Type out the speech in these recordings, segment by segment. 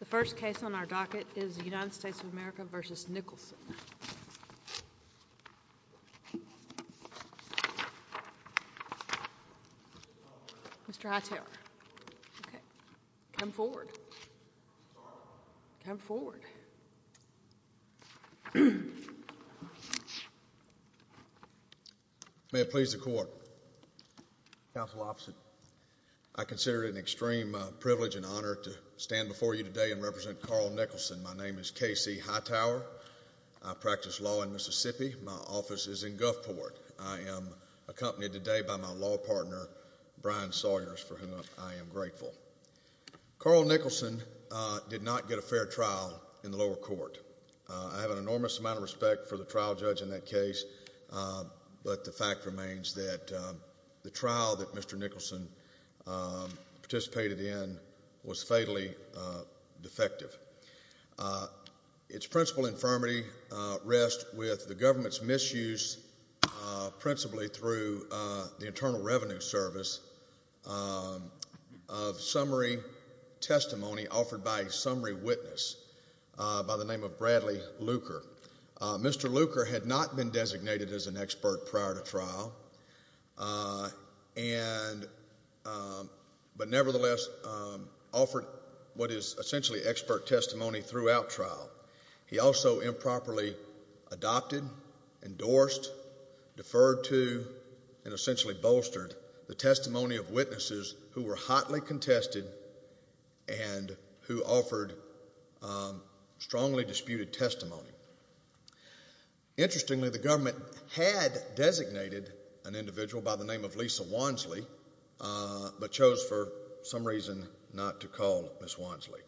The first case on our docket is United States of America v. Nicholson. Mr. Hightower. Come forward. Come forward. May it please the court. Counsel Officer. I consider it an extreme privilege and honor to stand before you today and represent Carl Nicholson. My name is K.C. Hightower. I practice law in Mississippi. My office is in Gulfport. I am accompanied today by my law partner Brian Sawyers for whom I am grateful. Carl Nicholson did not get a fair trial in the lower court. I have an enormous amount of respect for the trial judge in that case, but the fact remains that the trial that Mr. Nicholson participated in was fatally defective. Its principal infirmity rests with the government's misuse principally through the Internal Revenue Service of summary testimony offered by a summary witness by the name of Bradley Luker. Mr. Luker had not been designated as an expert prior to trial, but nevertheless offered what is essentially expert testimony throughout trial. He also improperly adopted, endorsed, deferred to, and essentially bolstered the testimony of witnesses who were hotly contested and who offered strongly disputed testimony. Interestingly, the government had designated an individual by the name of Lisa Wansley, but chose for some reason not to call Ms. Wansley.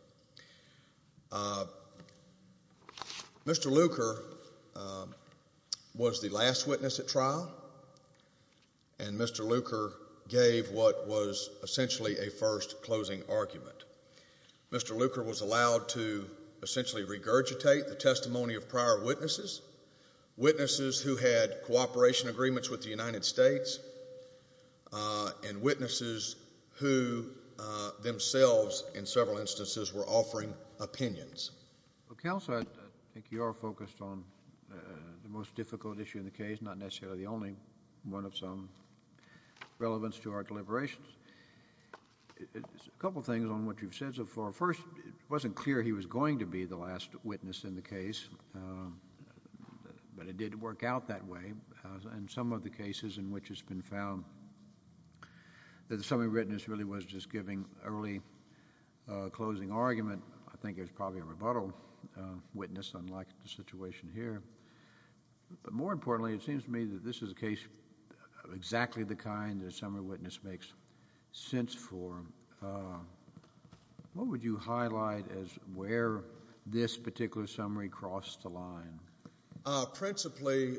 Mr. Luker was the last witness at trial, and Mr. Luker gave what was essentially a first closing argument. Mr. Luker was allowed to essentially regurgitate the testimony of prior witnesses, witnesses who had cooperation agreements with the United States, and witnesses who themselves, in several instances, were offering opinions. Counsel, I think you are focused on the most difficult issue in the case, not necessarily the only one of some relevance to our deliberations. A couple things on what you've said so far. First, it wasn't clear he was going to be the last witness in the case, but it did work out that way in some of the cases in which it's been found that the summary witness really was just giving early closing argument. I think it was probably a rebuttal witness, unlike the situation here. But more importantly, it seems to me that this is a case of exactly the kind that a summary witness makes sense for. What would you say is where this particular summary crossed the line? Principally,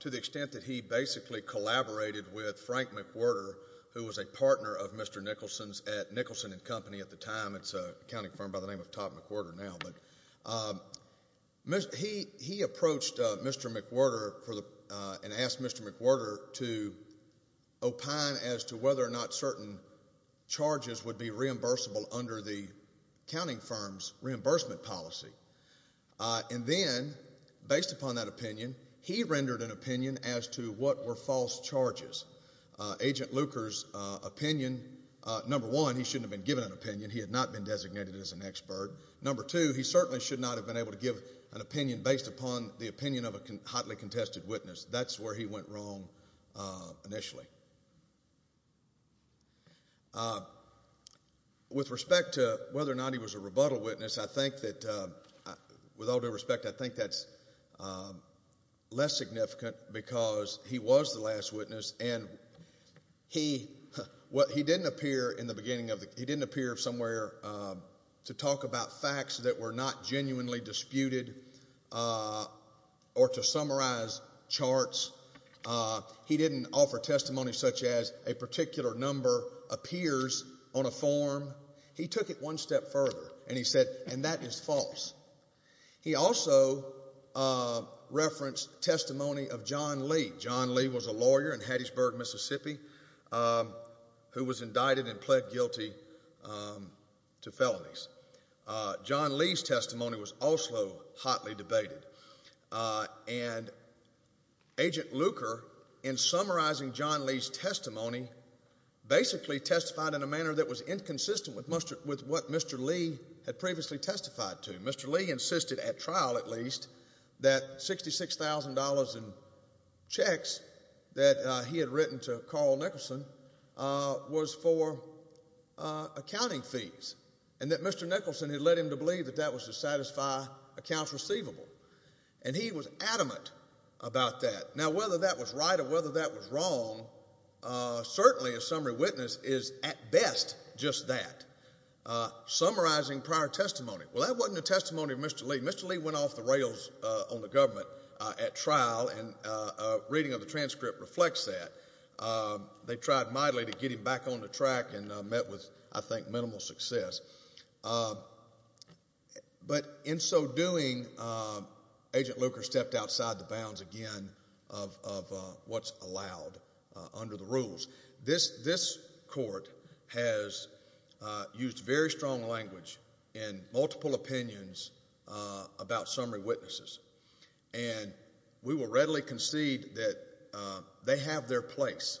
to the extent that he basically collaborated with Frank McWhirter, who was a partner of Mr. Nicholson's at Nicholson and Company at the time. It's an accounting firm by the name of Todd McWhirter now. He approached Mr. McWhirter and asked Mr. McWhirter to opine as to whether or not certain charges would be a reimbursement policy. Then, based upon that opinion, he rendered an opinion as to what were false charges. Agent Luker's opinion, number one, he shouldn't have been given an opinion. He had not been designated as an expert. Number two, he certainly should not have been able to give an opinion based upon the opinion of a hotly contested witness. That's where he went wrong initially. With respect to whether or not he was a rebuttal witness, with all due respect, I think that's less significant because he was the last witness. He didn't appear somewhere to talk about testimony such as a particular number appears on a form. He took it one step further and he said, and that is false. He also referenced testimony of John Lee. John Lee was a lawyer in Hattiesburg, Mississippi, who was indicted and pled guilty to felonies. John Lee's testimony was also hotly debated. Agent Luker, in summarizing John Lee's testimony, basically testified in a manner that was inconsistent with what Mr. Lee had previously testified to. Mr. Lee insisted, at trial at least, that $66,000 in checks that he had written to Carl Nicholson was for accounting fees and that Mr. Lee would satisfy accounts receivable. And he was adamant about that. Now, whether that was right or whether that was wrong, certainly a summary witness is at best just that. Summarizing prior testimony, well, that wasn't a testimony of Mr. Lee. Mr. Lee went off the rails on the government at trial, and a reading of the transcript reflects that. They tried mightily to get him back on the track and met with, I think, minimal success. But in so doing, Agent Luker stepped outside the bounds again of what's allowed under the rules. This court has used very strong language and multiple opinions about summary witnesses, and we will readily concede that they have their place.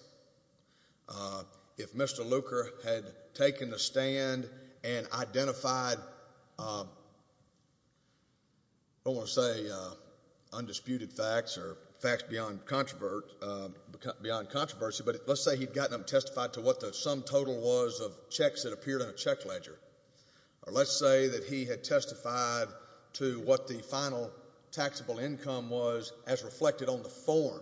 If Mr. Luker had taken the stand and identified, I don't want to say undisputed facts or facts beyond controversy, but let's say he'd gotten them testified to what the sum total was of checks that appeared in a check ledger, or let's say that he had testified to what the final taxable income was as reflected on the form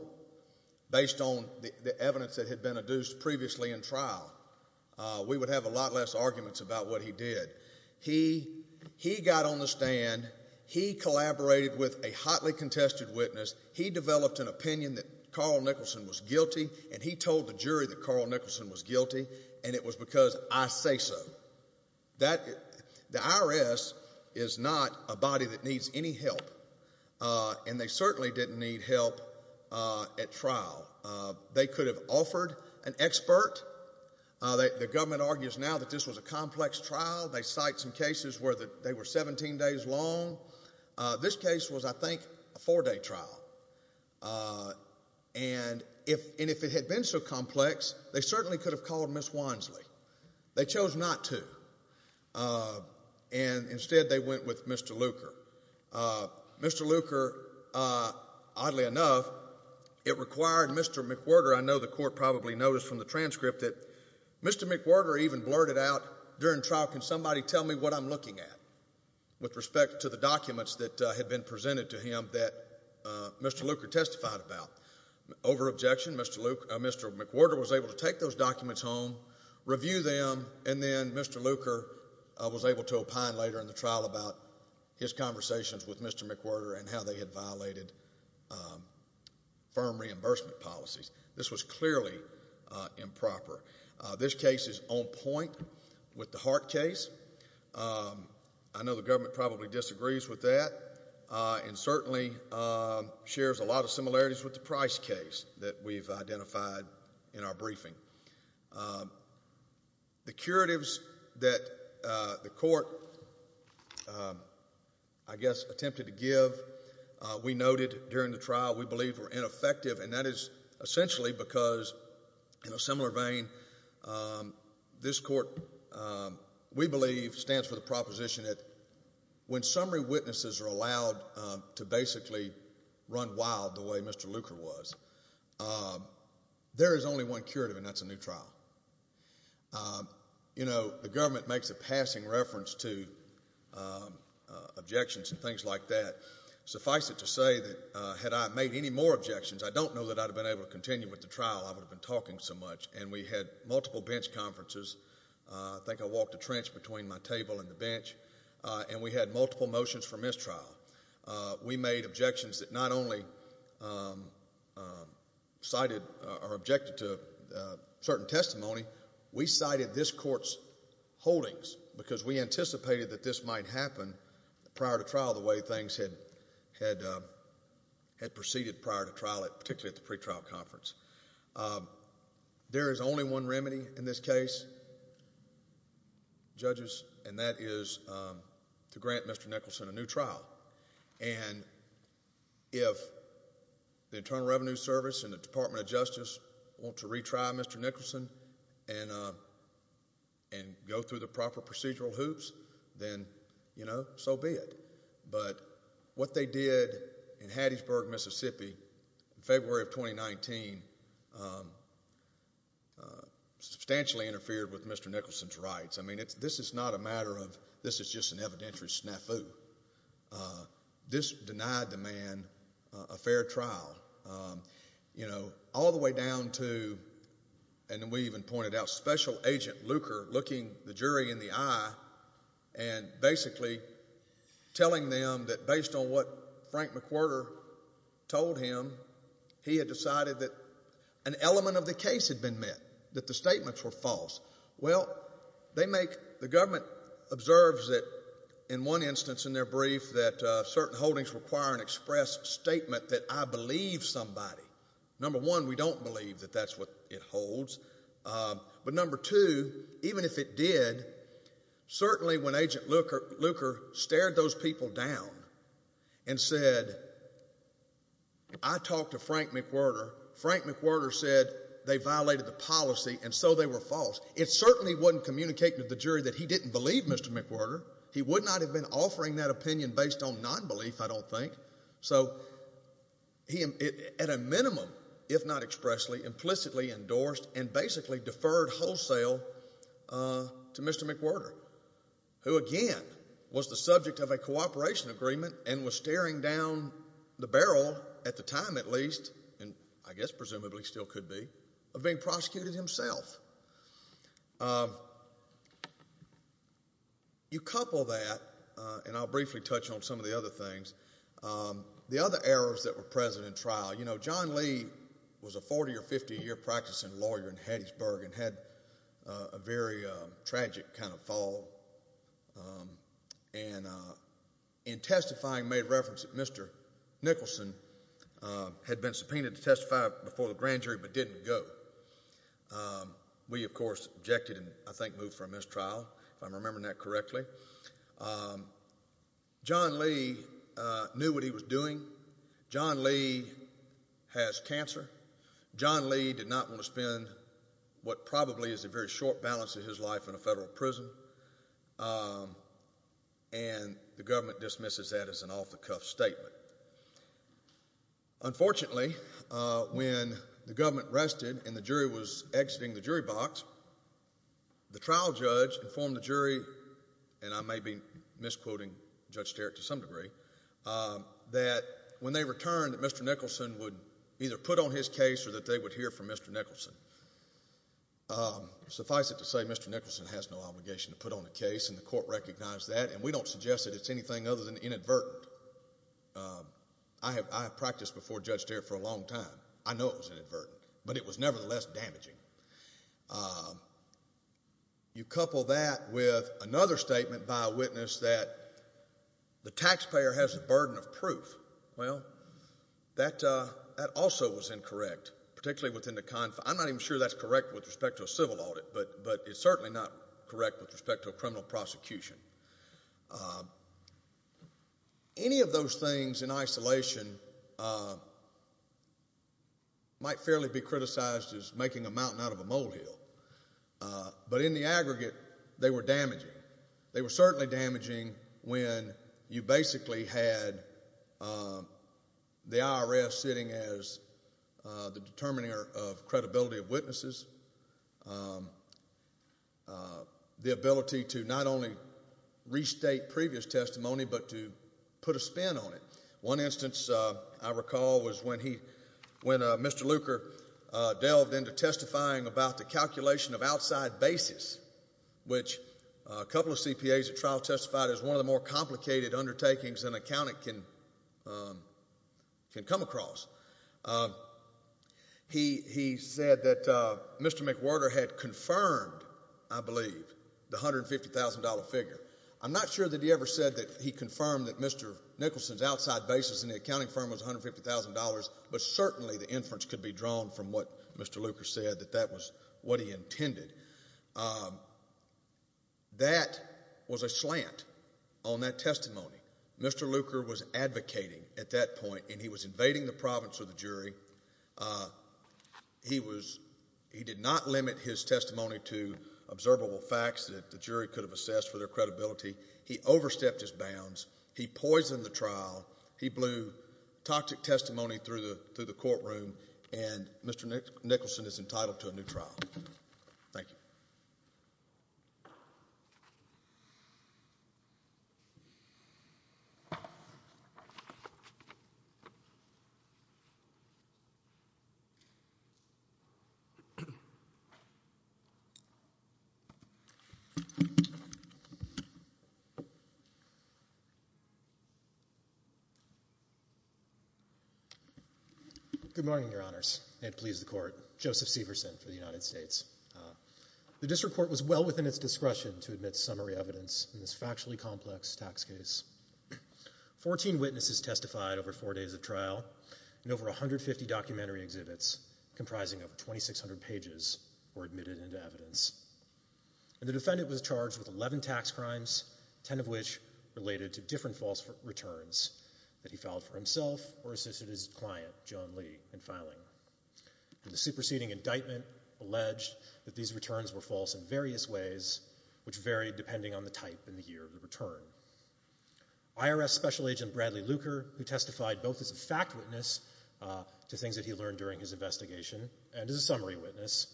based on the evidence that had been adduced previously in trial, we would have a lot less arguments about what he did. He got on the stand. He collaborated with a hotly contested witness. He developed an opinion that Carl Nicholson was guilty, and he told the jury that Carl Nicholson was guilty, and it was because I say so. The IRS is not a body that certainly didn't need help at trial. They could have offered an expert. The government argues now that this was a complex trial. They cite some cases where they were 17 days long. This case was, I think, a four-day trial, and if it had been so complex, they certainly could have called Ms. Wansley. They chose not to, and instead they went with Mr. Luker. Mr. Luker, oddly enough, it required Mr. McWhorter. I know the court probably noticed from the transcript that Mr. McWhorter even blurted out during trial, can somebody tell me what I'm looking at with respect to the documents that had been presented to him that Mr. Luker testified about. Over objection, Mr. McWhorter was able to take those documents home, review them, and then Mr. Luker was able to opine later in the trial about his conversations with Mr. McWhorter and how they had violated firm reimbursement policies. This was clearly improper. This case is on point with the Hart case. I know the government probably disagrees with that and certainly shares a lot of similarities with the Price case that we've identified in our briefing. The curatives that the court, I guess, attempted to give, we noted during the trial we believe were ineffective, and that is essentially because, in a similar vein, this court, we believe, stands for the proposition that when summary witnesses are allowed to basically run wild the way Mr. Luker was, there is only one curative, and that's a new trial. You know, the government makes a passing reference to objections and things like that. Suffice it to say that had I made any more objections, I don't know that I'd have been able to continue with the trial. I would have been talking so much, and we had multiple bench conferences. I think I walked the trench between my table and the bench, and we had multiple motions for mistrial. We made objections that not only cited or objected to certain testimony, we cited this court's holdings because we anticipated that this might happen prior to trial the way things had proceeded prior to trial, particularly at the pretrial conference. There is only one remedy in this case, judges, and that is to grant Mr. Nicholson a new trial, and if the Internal Revenue Service and the Department of Justice want to retry Mr. Nicholson and go through the proper procedural hoops, then, you get it, but what they did in Hattiesburg, Mississippi, in February of 2019, substantially interfered with Mr. Nicholson's rights. I mean, this is not a matter of, this is just an evidentiary snafu. This denied the man a fair trial, you know, all the way down to, and we even pointed out, Special Agent Luker looking the telling them that based on what Frank McWhirter told him, he had decided that an element of the case had been met, that the statements were false. Well, they make, the government observes that, in one instance in their brief, that certain holdings require an express statement that I believe somebody. Number one, we don't believe that that's what it holds, but number two, even if it did, certainly when Agent Luker stared those people down and said, I talked to Frank McWhirter, Frank McWhirter said they violated the policy and so they were false, it certainly wouldn't communicate to the jury that he didn't believe Mr. McWhirter. He would not have been offering that opinion based on non-belief, I don't think, so he, at a minimum, if not expressly, implicitly to Mr. McWhirter, who again, was the subject of a cooperation agreement and was staring down the barrel, at the time at least, and I guess presumably still could be, of being prosecuted himself. You couple that, and I'll briefly touch on some of the other things, the other errors that were present in trial, you know, John Lee was a 40 or 50 year practicing lawyer in Hattiesburg and had a very tragic kind of fall, and in testifying, made reference that Mr. Nicholson had been subpoenaed to testify before the grand jury but didn't go. We, of course, objected and I think moved for a mistrial, if I'm going to spend what probably is a very short balance of his life in a federal prison, and the government dismisses that as an off-the-cuff statement. Unfortunately, when the government rested and the jury was exiting the jury box, the trial judge informed the jury, and I may be misquoting Judge Sterritt to some degree, that when they returned, that Mr. Nicholson would either put on his case or that they would hear from Mr. Nicholson. Suffice it to say, Mr. Nicholson has no obligation to put on a case, and the court recognized that, and we don't suggest that it's anything other than inadvertent. I have practiced before Judge Sterritt for a long time. I know it was inadvertent, but it was nevertheless damaging. You couple that with another statement by a judge that also was incorrect, particularly within the confinement. I'm not even sure that's correct with respect to a civil audit, but it's certainly not correct with respect to a criminal prosecution. Any of those things in isolation might fairly be criticized as making a mountain out of a molehill, but in the aggregate, they were damaging. They were certainly damaging when you basically had the IRS sitting as the determiner of credibility of witnesses, the ability to not only restate previous testimony, but to put a spin on it. One instance I recall was when Mr. Luker delved into testifying about the calculation of outside basis, which a couple of CPAs at trial testified is one of the more complicated undertakings an accountant can come across. He said that Mr. McWhirter had confirmed, I believe, the $150,000 figure. I'm not sure that he ever said that he confirmed that Mr. Nicholson's outside basis in the accounting firm was that testimony. Mr. Luker was advocating at that point, and he was invading the province of the jury. He did not limit his testimony to observable facts that the jury could have assessed for their credibility. He overstepped his bounds. He poisoned the trial. He blew toxic gas. Good morning, your honors. And please, the court. Joseph Severson for the United States. The district court was well within its scope of evidence in this factually complex tax case. Fourteen witnesses testified over four days of trial, and over 150 documentary exhibits, comprising over 2,600 pages, were admitted into evidence. And the defendant was charged with 11 tax crimes, 10 of which related to different false returns that he filed for himself or assisted his client, John Lee, in filing. And the superseding indictment alleged that these returns were false in various ways, which varied depending on the type and the year of the return. IRS Special Agent Bradley Luker, who testified both as a fact witness to things that he learned during his investigation and as a summary witness,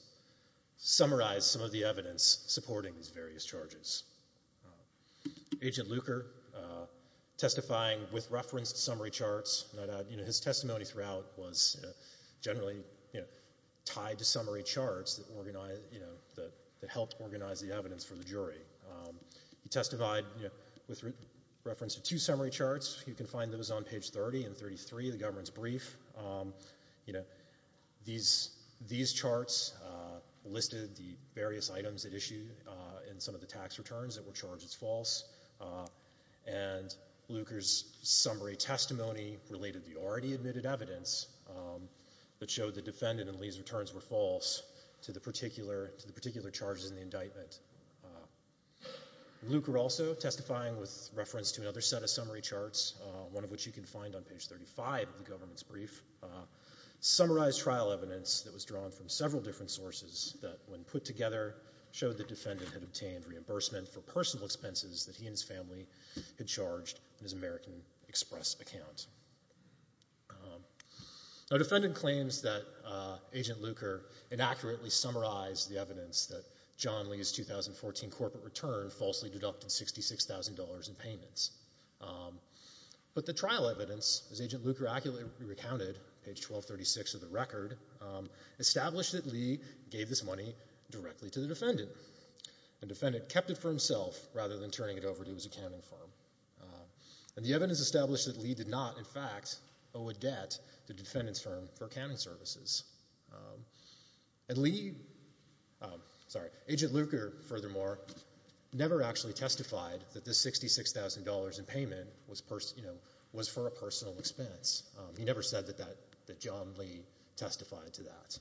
summarized some of the evidence supporting these various charges. Agent Luker, testifying with reference to summary charts. His testimony throughout was generally tied to summary charts that helped organize the evidence for the jury. He testified with reference to two summary charts. You can find those on page 30 and 33 of the government's brief. These charts listed the various items at issue in some of the tax returns that were charged as false. And Luker's summary testimony related the already admitted evidence that showed the defendant and Lee's returns were false to the particular charges in the indictment. Luker also testifying with reference to another set of summary charts, one of which you can find on page 35 of the government's brief, summarized trial evidence that was drawn from several different sources that, when put together, showed the defendant had incurred the additional expenses that he and his family had charged in his American Express account. The defendant claims that Agent Luker inaccurately summarized the evidence that John Lee's 2014 corporate return falsely deducted $66,000 in payments. But the trial evidence, as Agent Luker testified, was that the $66,000 was a personal expense rather than turning it over to his accounting firm. And the evidence established that Lee did not, in fact, owe a debt to the defendant's firm for accounting services. And Agent Luker, furthermore, never actually testified that this $66,000 in payment was for a personal expense. He never said that John Lee testified to that.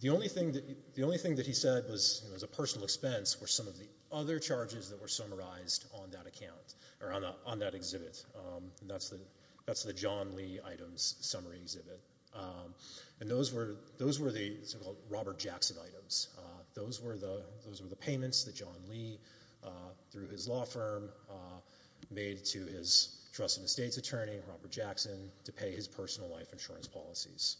The only thing that he said was a personal expense were some of the other charges that were summarized on that account, or on that exhibit. And that's the John Lee items summary exhibit. And those were the so-called Robert Jackson items. Those were the payments that John Lee, through his law firm, made to his trust and estates attorney, Robert Jackson, to pay his personal life insurance policies.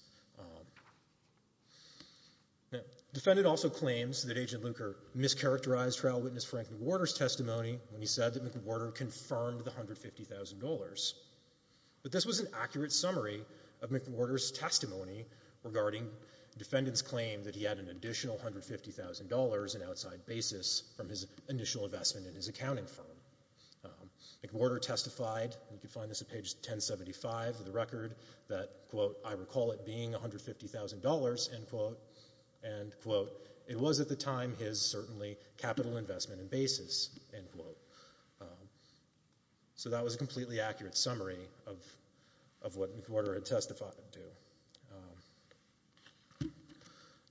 The defendant also claims that Agent Luker mischaracterized trial witness Franklin Warder's testimony when he said that McWhorter confirmed the $150,000. But this was an accurate summary of McWhorter's testimony regarding the defendant's claim that he had an additional $150,000 in outside basis from his initial investment in his accounting firm. McWhorter testified, you can find this at page 1075 of the record, that, quote, I recall it being $150,000, end quote. And, quote, it was at the time his, certainly, capital investment and basis, end quote. So that was a completely accurate summary of what McWhorter had testified to.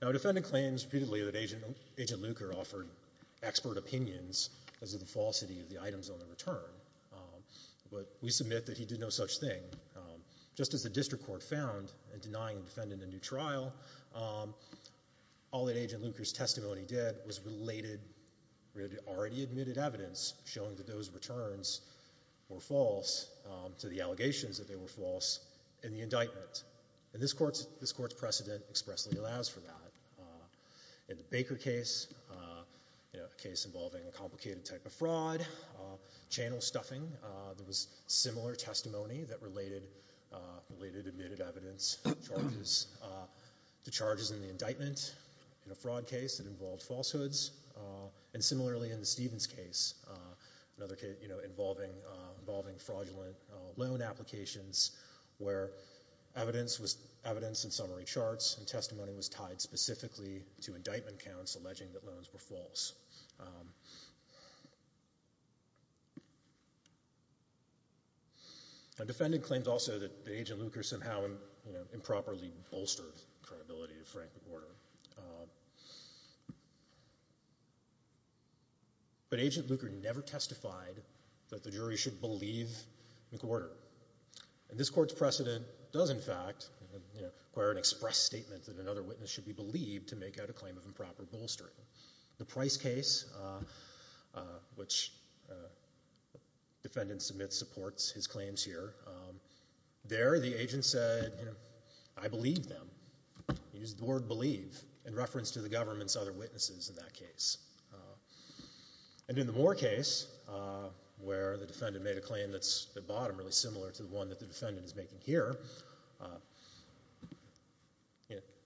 Now, a defendant claims repeatedly that Agent Luker offered expert opinions as to the falsity of the items on the return. But we submit that he did no such thing. Just as the district court found in denying the defendant a new trial, all that Agent Luker's testimony did was related, already admitted evidence, showing that those returns were false to the allegations that they were false in the indictment. And this court's precedent expressly allows for that. In the Baker case, a case involving a complicated type of fraud, channel stuffing, there was similar testimony that related admitted evidence charges to charges in the indictment. In a fraud case, it involved falsehoods. And, similarly, in the Stevens case, another case involving fraudulent loan applications, where evidence and summary charts and testimony was tied specifically to indictment counts alleging that loans were false. A defendant claims, also, that Agent Luker somehow improperly bolstered the credibility of Frank McWhorter. But Agent Luker never testified that the jury should believe McWhorter. And this court's precedent does, in fact, require an express statement that another witness should be believed to make out a claim of improper bolstering. The Price case, which defendants submit supports his claims here, there the agent said, you know, I believe them. He used the word believe in reference to the government's other witnesses in that case. And in the Moore case, where the defendant made a claim that's at the bottom, really similar to the one that the defendant is making here,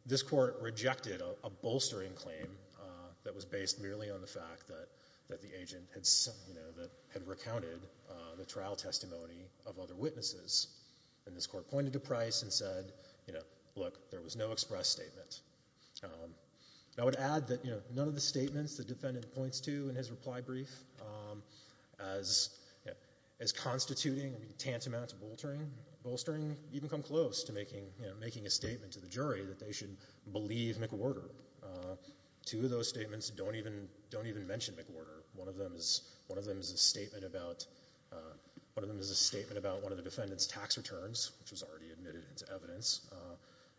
this court rejected a bolstering claim that was based merely on the fact that the agent had recounted the trial testimony of other witnesses. And this court pointed to Price and said, you know, look, there was no express statement. I would add that, you know, none of the statements the defendant points to in his reply brief as constituting, I mean, tantamount to bolstering even come close to making a statement to the jury that they should believe McWhorter. Two of those statements don't even mention McWhorter. One of them is, one of them is a statement about, one of them is a statement about one of the defendant's tax returns, which was already admitted into evidence.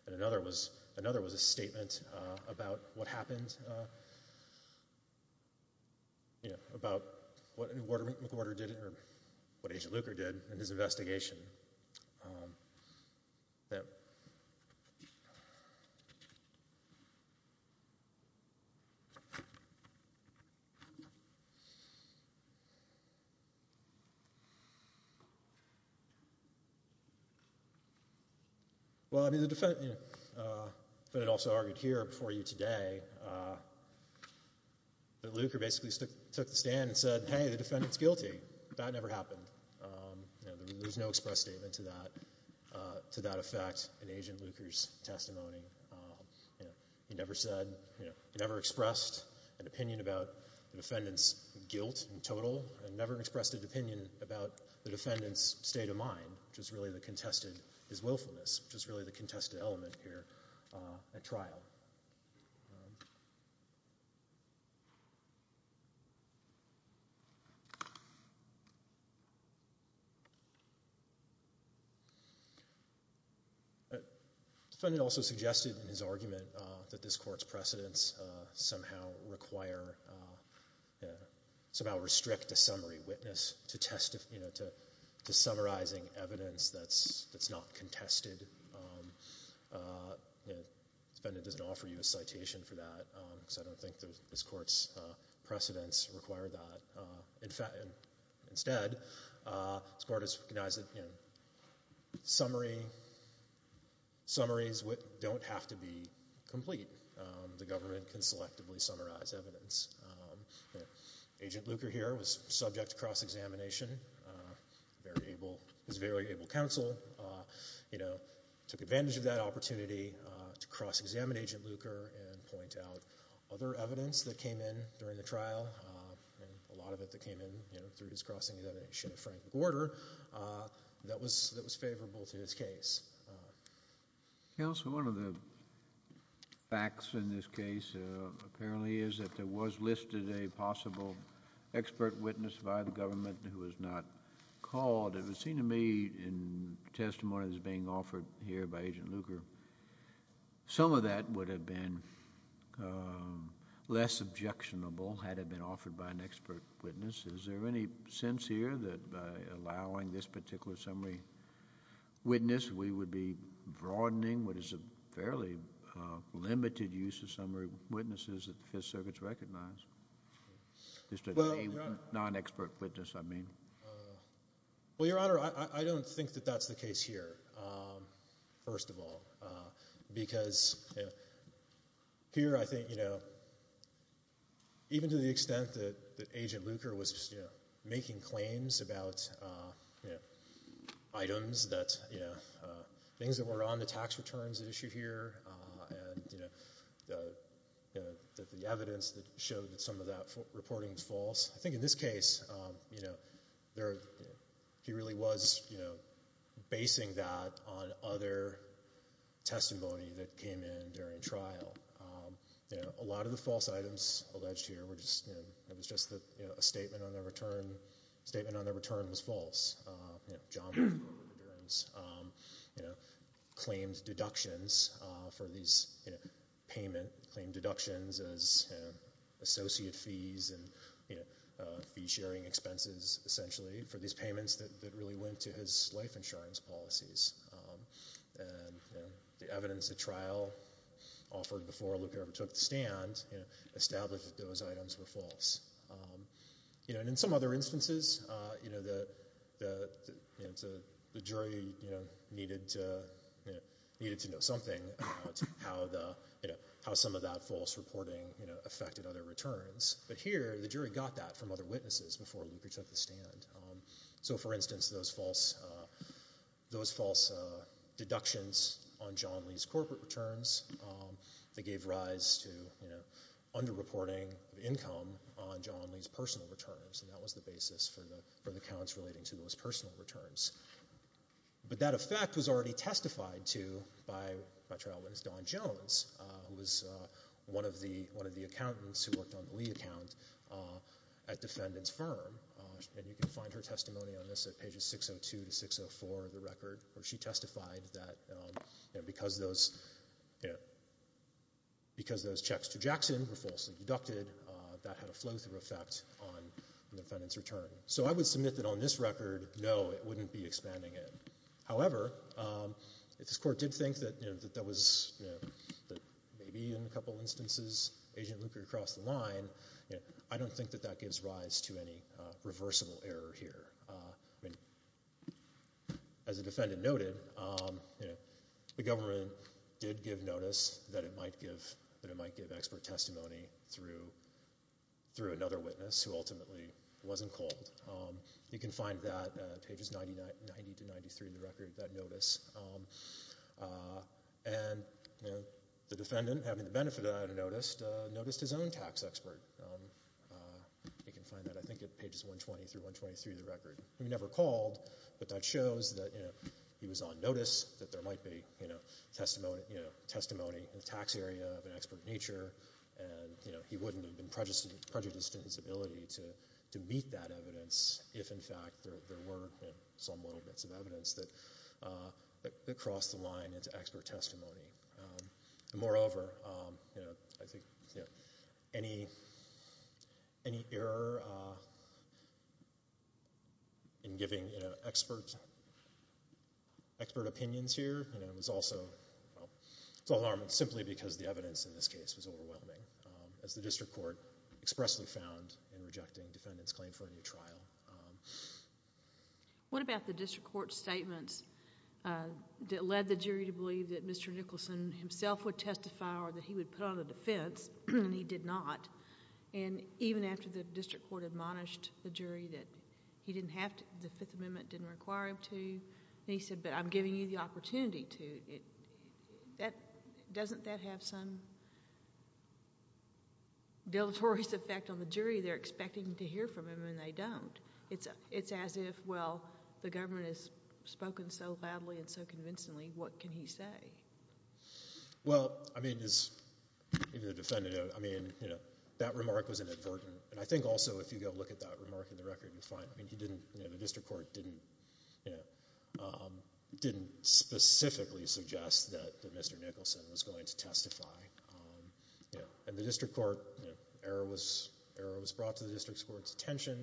And another was, another was a statement about what happened, you know, about what McWhorter did or what Agent Luker did in his investigation. Well, I mean, the defendant, you know, the defendant also argued here before you today that Luker basically took the stand and said, hey, the defendant's guilty. That never happened. You know, there's no express statement to that, to that effect in Agent Luker's testimony. You know, he never said, you know, he never expressed an opinion about the defendant's guilt in total and never expressed an opinion about the defendant's state of mind, which is really the contested, his willfulness, which is really the contested element here at trial. The defendant also suggested in his argument that this court's precedents somehow require, you know, somehow restrict a summary witness to test, you know, to summarizing evidence that's not contested. You know, the defendant doesn't offer you a citation for that because I don't think this court's precedents require that. Instead, this court has recognized that, you know, summary, summaries don't have to be complete. The government can selectively summarize evidence. Agent Luker here was subject to cross-examination. Very able, his very able counsel, you know, took advantage of that opportunity to cross-examine Agent Luker and point out other evidence that came in during the trial and a lot of it that came in, you know, through his cross-examination of Frank Gorder that was favorable to his case. Counsel, one of the facts in this case apparently is that there was listed a possible expert witness by the government who was not called. It would seem to me in testimony that's being offered here by Agent Luker, some of that would have been less objectionable had it been offered by an expert witness. Is there any sense here that by allowing this particular summary witness, we would be broadening what is a fairly limited use of summary witnesses that the Fifth Circuit's recognized? Just a non-expert witness, I mean. Well, Your Honor, I don't think that that's the case here, first of all, because here I think, you know, even to the extent that Agent Luker was making claims about items that, you know, things that were on the tax returns issue here and, you know, the evidence that showed that some of that reporting was false. I think in this case, you know, he really was, you know, basing that on other testimony that came in during trial. You know, a lot of the false items alleged here were just, you know, it was just that, you know, a statement on their return was false. You know, John McGovern, you know, claimed deductions for these, you know, payment, claimed deductions as, you know, associate fees and, you know, fee sharing expenses essentially for these payments that really went to his life insurance policies. And, you know, the evidence at trial offered before Luker ever took the stand, you know, established that those items were false. You know, and in some other instances, you know, the jury, you know, needed to, you know, needed to know something about how the, you know, how some of that false reporting, you know, affected other returns. But here, the jury got that from other witnesses before Luker took the stand. So, for instance, those false deductions on John Lee's corporate returns, they gave rise to, you know, underreporting of income on John Lee's personal returns. And that was the basis for the accounts relating to those personal returns. But that effect was already testified to by my trial witness Dawn Jones, who was one of the accountants who worked on the Lee account at Defendant's Firm. And you can find her testimony on this at pages 602 to 604 of the record, where she testified that, you know, because those, you know, because those checks to Jackson were falsely deducted, that had a flow-through effect on the defendant's return. So I would submit that on this record, no, it wouldn't be expanding it. However, if this Court did think that, you know, that that was, you know, that maybe in a couple instances, Agent Luker crossed the line, you know, I don't think that that gives rise to any reversible error here. I mean, as the defendant noted, you know, the government did give notice that it might give expert testimony through another witness who ultimately wasn't called. You can find that at pages 90 to 93 of the record, that notice. And, you know, the defendant, having the benefit of that notice, noticed his own tax expert. You can find that, I think, at pages 120 through 123 of the record. He never called, but that shows that, you know, he was on notice, that there might be, you know, testimony in the tax area of an expert nature. And, you know, he wouldn't have been prejudiced in his ability to meet that evidence if, in fact, there were some little bits of evidence that crossed the line into expert testimony. And, moreover, you know, I think, you know, any error in giving, you know, expert opinions here, you know, is also, well, it's alarming simply because the evidence in this case was overwhelming, as the District Court expressly found in rejecting the defendant's claim for a new trial. What about the District Court statements that led the jury to believe that Mr. Nicholson himself would testify or that he would put on a defense, and he did not? And even after the District Court admonished the jury that he didn't have to, the Fifth Amendment didn't require him to, and he said, but I'm giving you the opportunity to. Doesn't that have some deleterious effect on the jury? They're expecting to hear from him, and they don't. It's as if, well, the government has spoken so loudly and so convincingly, what can he say? Well, I mean, as the defendant, I mean, you know, that remark was inadvertent. And I think also if you go look at that remark in the record, you'll find, I mean, he didn't, you know, the District Court didn't, you know, didn't specifically suggest that Mr. Nicholson was going to testify. You know, and the District Court, you know, error was brought to the District Court's attention.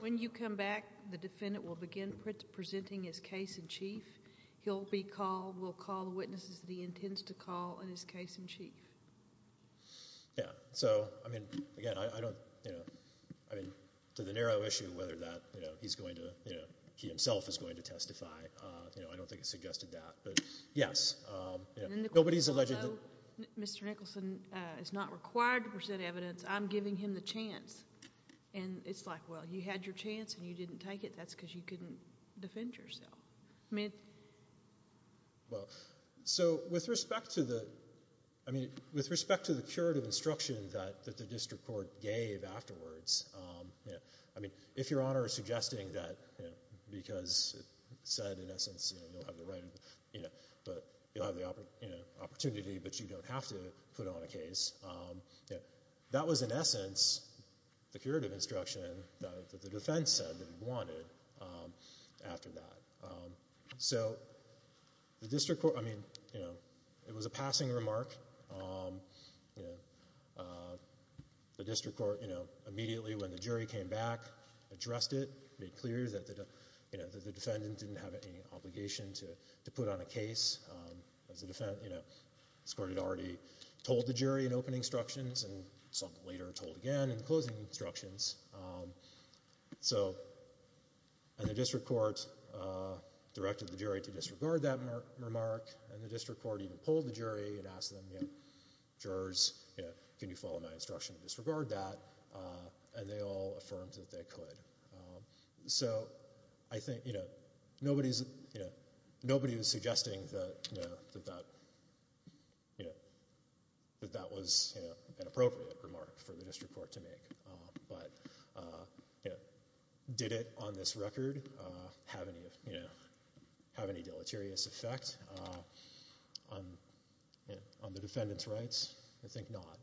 When you come back, the defendant will begin presenting his case in chief. He'll be called, will call the witnesses that he intends to call in his case in chief. Yeah. So, I mean, again, I don't, you know, I mean, to the narrow issue of whether that, you know, he's going to, you know, he himself is going to testify, you know, I don't think it suggested that. But, yes. Although Mr. Nicholson is not required to present evidence, I'm giving him the chance. And it's like, well, you had your chance and you didn't take it. That's because you couldn't defend yourself. I mean. Well, so with respect to the, I mean, with respect to the curative instruction that the District Court gave afterwards, you know, I mean, if Your Honor is suggesting that, you know, because it said in essence, you know, you don't have the right, you know. But you'll have the opportunity, but you don't have to put on a case. That was in essence the curative instruction that the defense said that he wanted after that. So the District Court, I mean, you know, it was a passing remark. You know, the District Court, you know, immediately when the jury came back, addressed it, made clear that, you know, the defendant didn't have any obligation to put on a case. As a defendant, you know, this Court had already told the jury in opening instructions and some later told again in closing instructions. So, and the District Court directed the jury to disregard that remark, and the District Court even pulled the jury and asked them, you know, jurors, you know, can you follow my instruction to disregard that? And they all affirmed that they could. So I think, you know, nobody's, you know, nobody was suggesting that, you know, that that, you know, that that was an appropriate remark for the District Court to make. But, you know, did it on this record have any, you know, have any deleterious effect on the defendant's rights? I think not.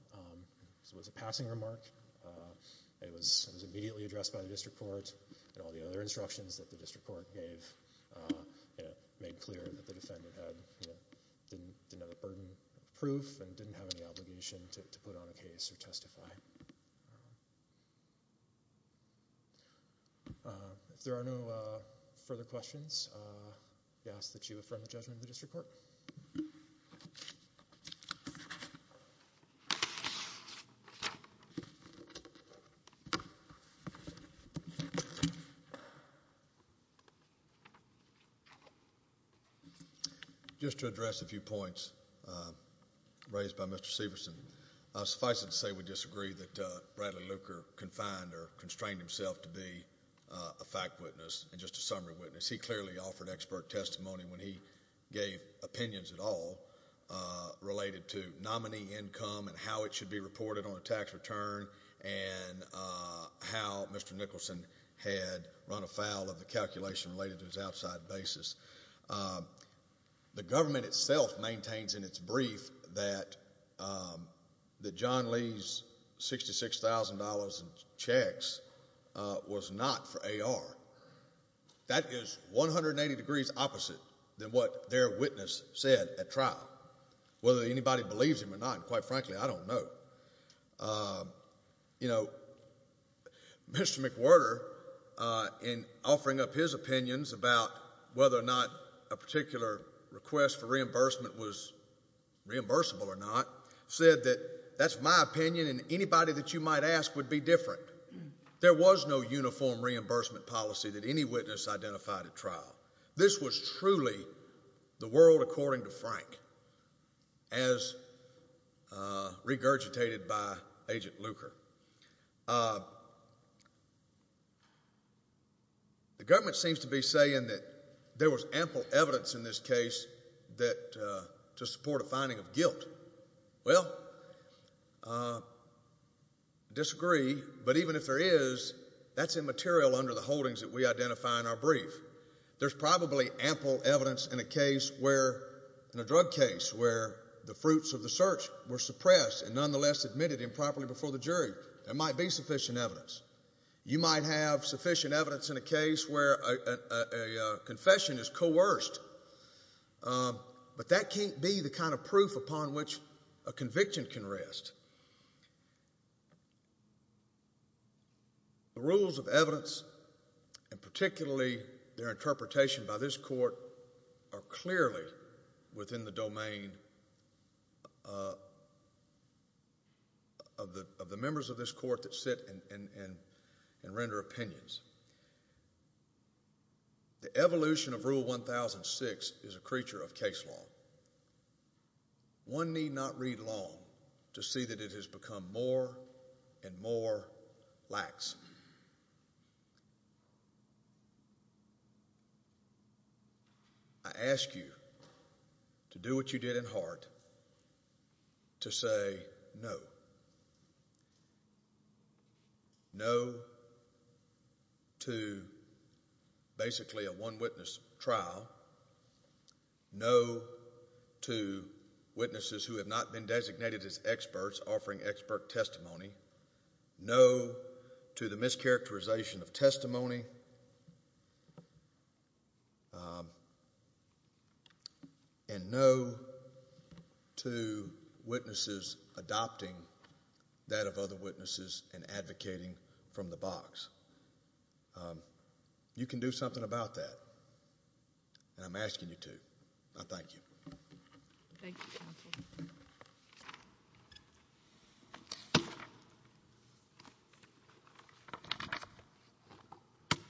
It was a passing remark. It was immediately addressed by the District Court and all the other instructions that the District Court gave, you know, made clear that the defendant had, you know, didn't have a burden of proof and didn't have any obligation to put on a case or testify. If there are no further questions, I ask that you affirm the judgment of the District Court. Thank you. Just to address a few points raised by Mr. Severson, suffice it to say we disagree that Bradley Luker confined or constrained himself to be a fact witness and just a summary witness. He clearly offered expert testimony when he gave opinions at all related to nominee income and how it should be reported on a tax return and how Mr. Nicholson had run afoul of the calculation related to his outside basis. The government itself maintains in its brief that John Lee's $66,000 in checks was not for AR. That is 180 degrees opposite than what their witness said at trial. Whether anybody believes him or not, quite frankly, I don't know. You know, Mr. McWhirter, in offering up his opinions about whether or not a particular request for reimbursement was reimbursable or not, said that that's my opinion and anybody that you might ask would be different. There was no uniform reimbursement policy that any witness identified at trial. This was truly the world according to Frank as regurgitated by Agent Luker. The government seems to be saying that there was ample evidence in this case to support a finding of guilt. Well, I disagree, but even if there is, that's immaterial under the holdings that we identify in our brief. There's probably ample evidence in a drug case where the fruits of the search were suppressed and nonetheless admitted improperly before the jury. There might be sufficient evidence. You might have sufficient evidence in a case where a confession is coerced. But that can't be the kind of proof upon which a conviction can rest. The rules of evidence and particularly their interpretation by this court are clearly within the domain of the members of this court that sit and render opinions. The evolution of Rule 1006 is a creature of case law. One need not read long to see that it has become more and more lax. I ask you to do what you did in heart to say no. No to basically a one witness trial. No to witnesses who have not been designated as experts offering expert testimony. No to the mischaracterization of testimony. And no to witnesses adopting that of other witnesses and advocating from the box. You can do something about that, and I'm asking you to. I thank you. Thank you, Counsel.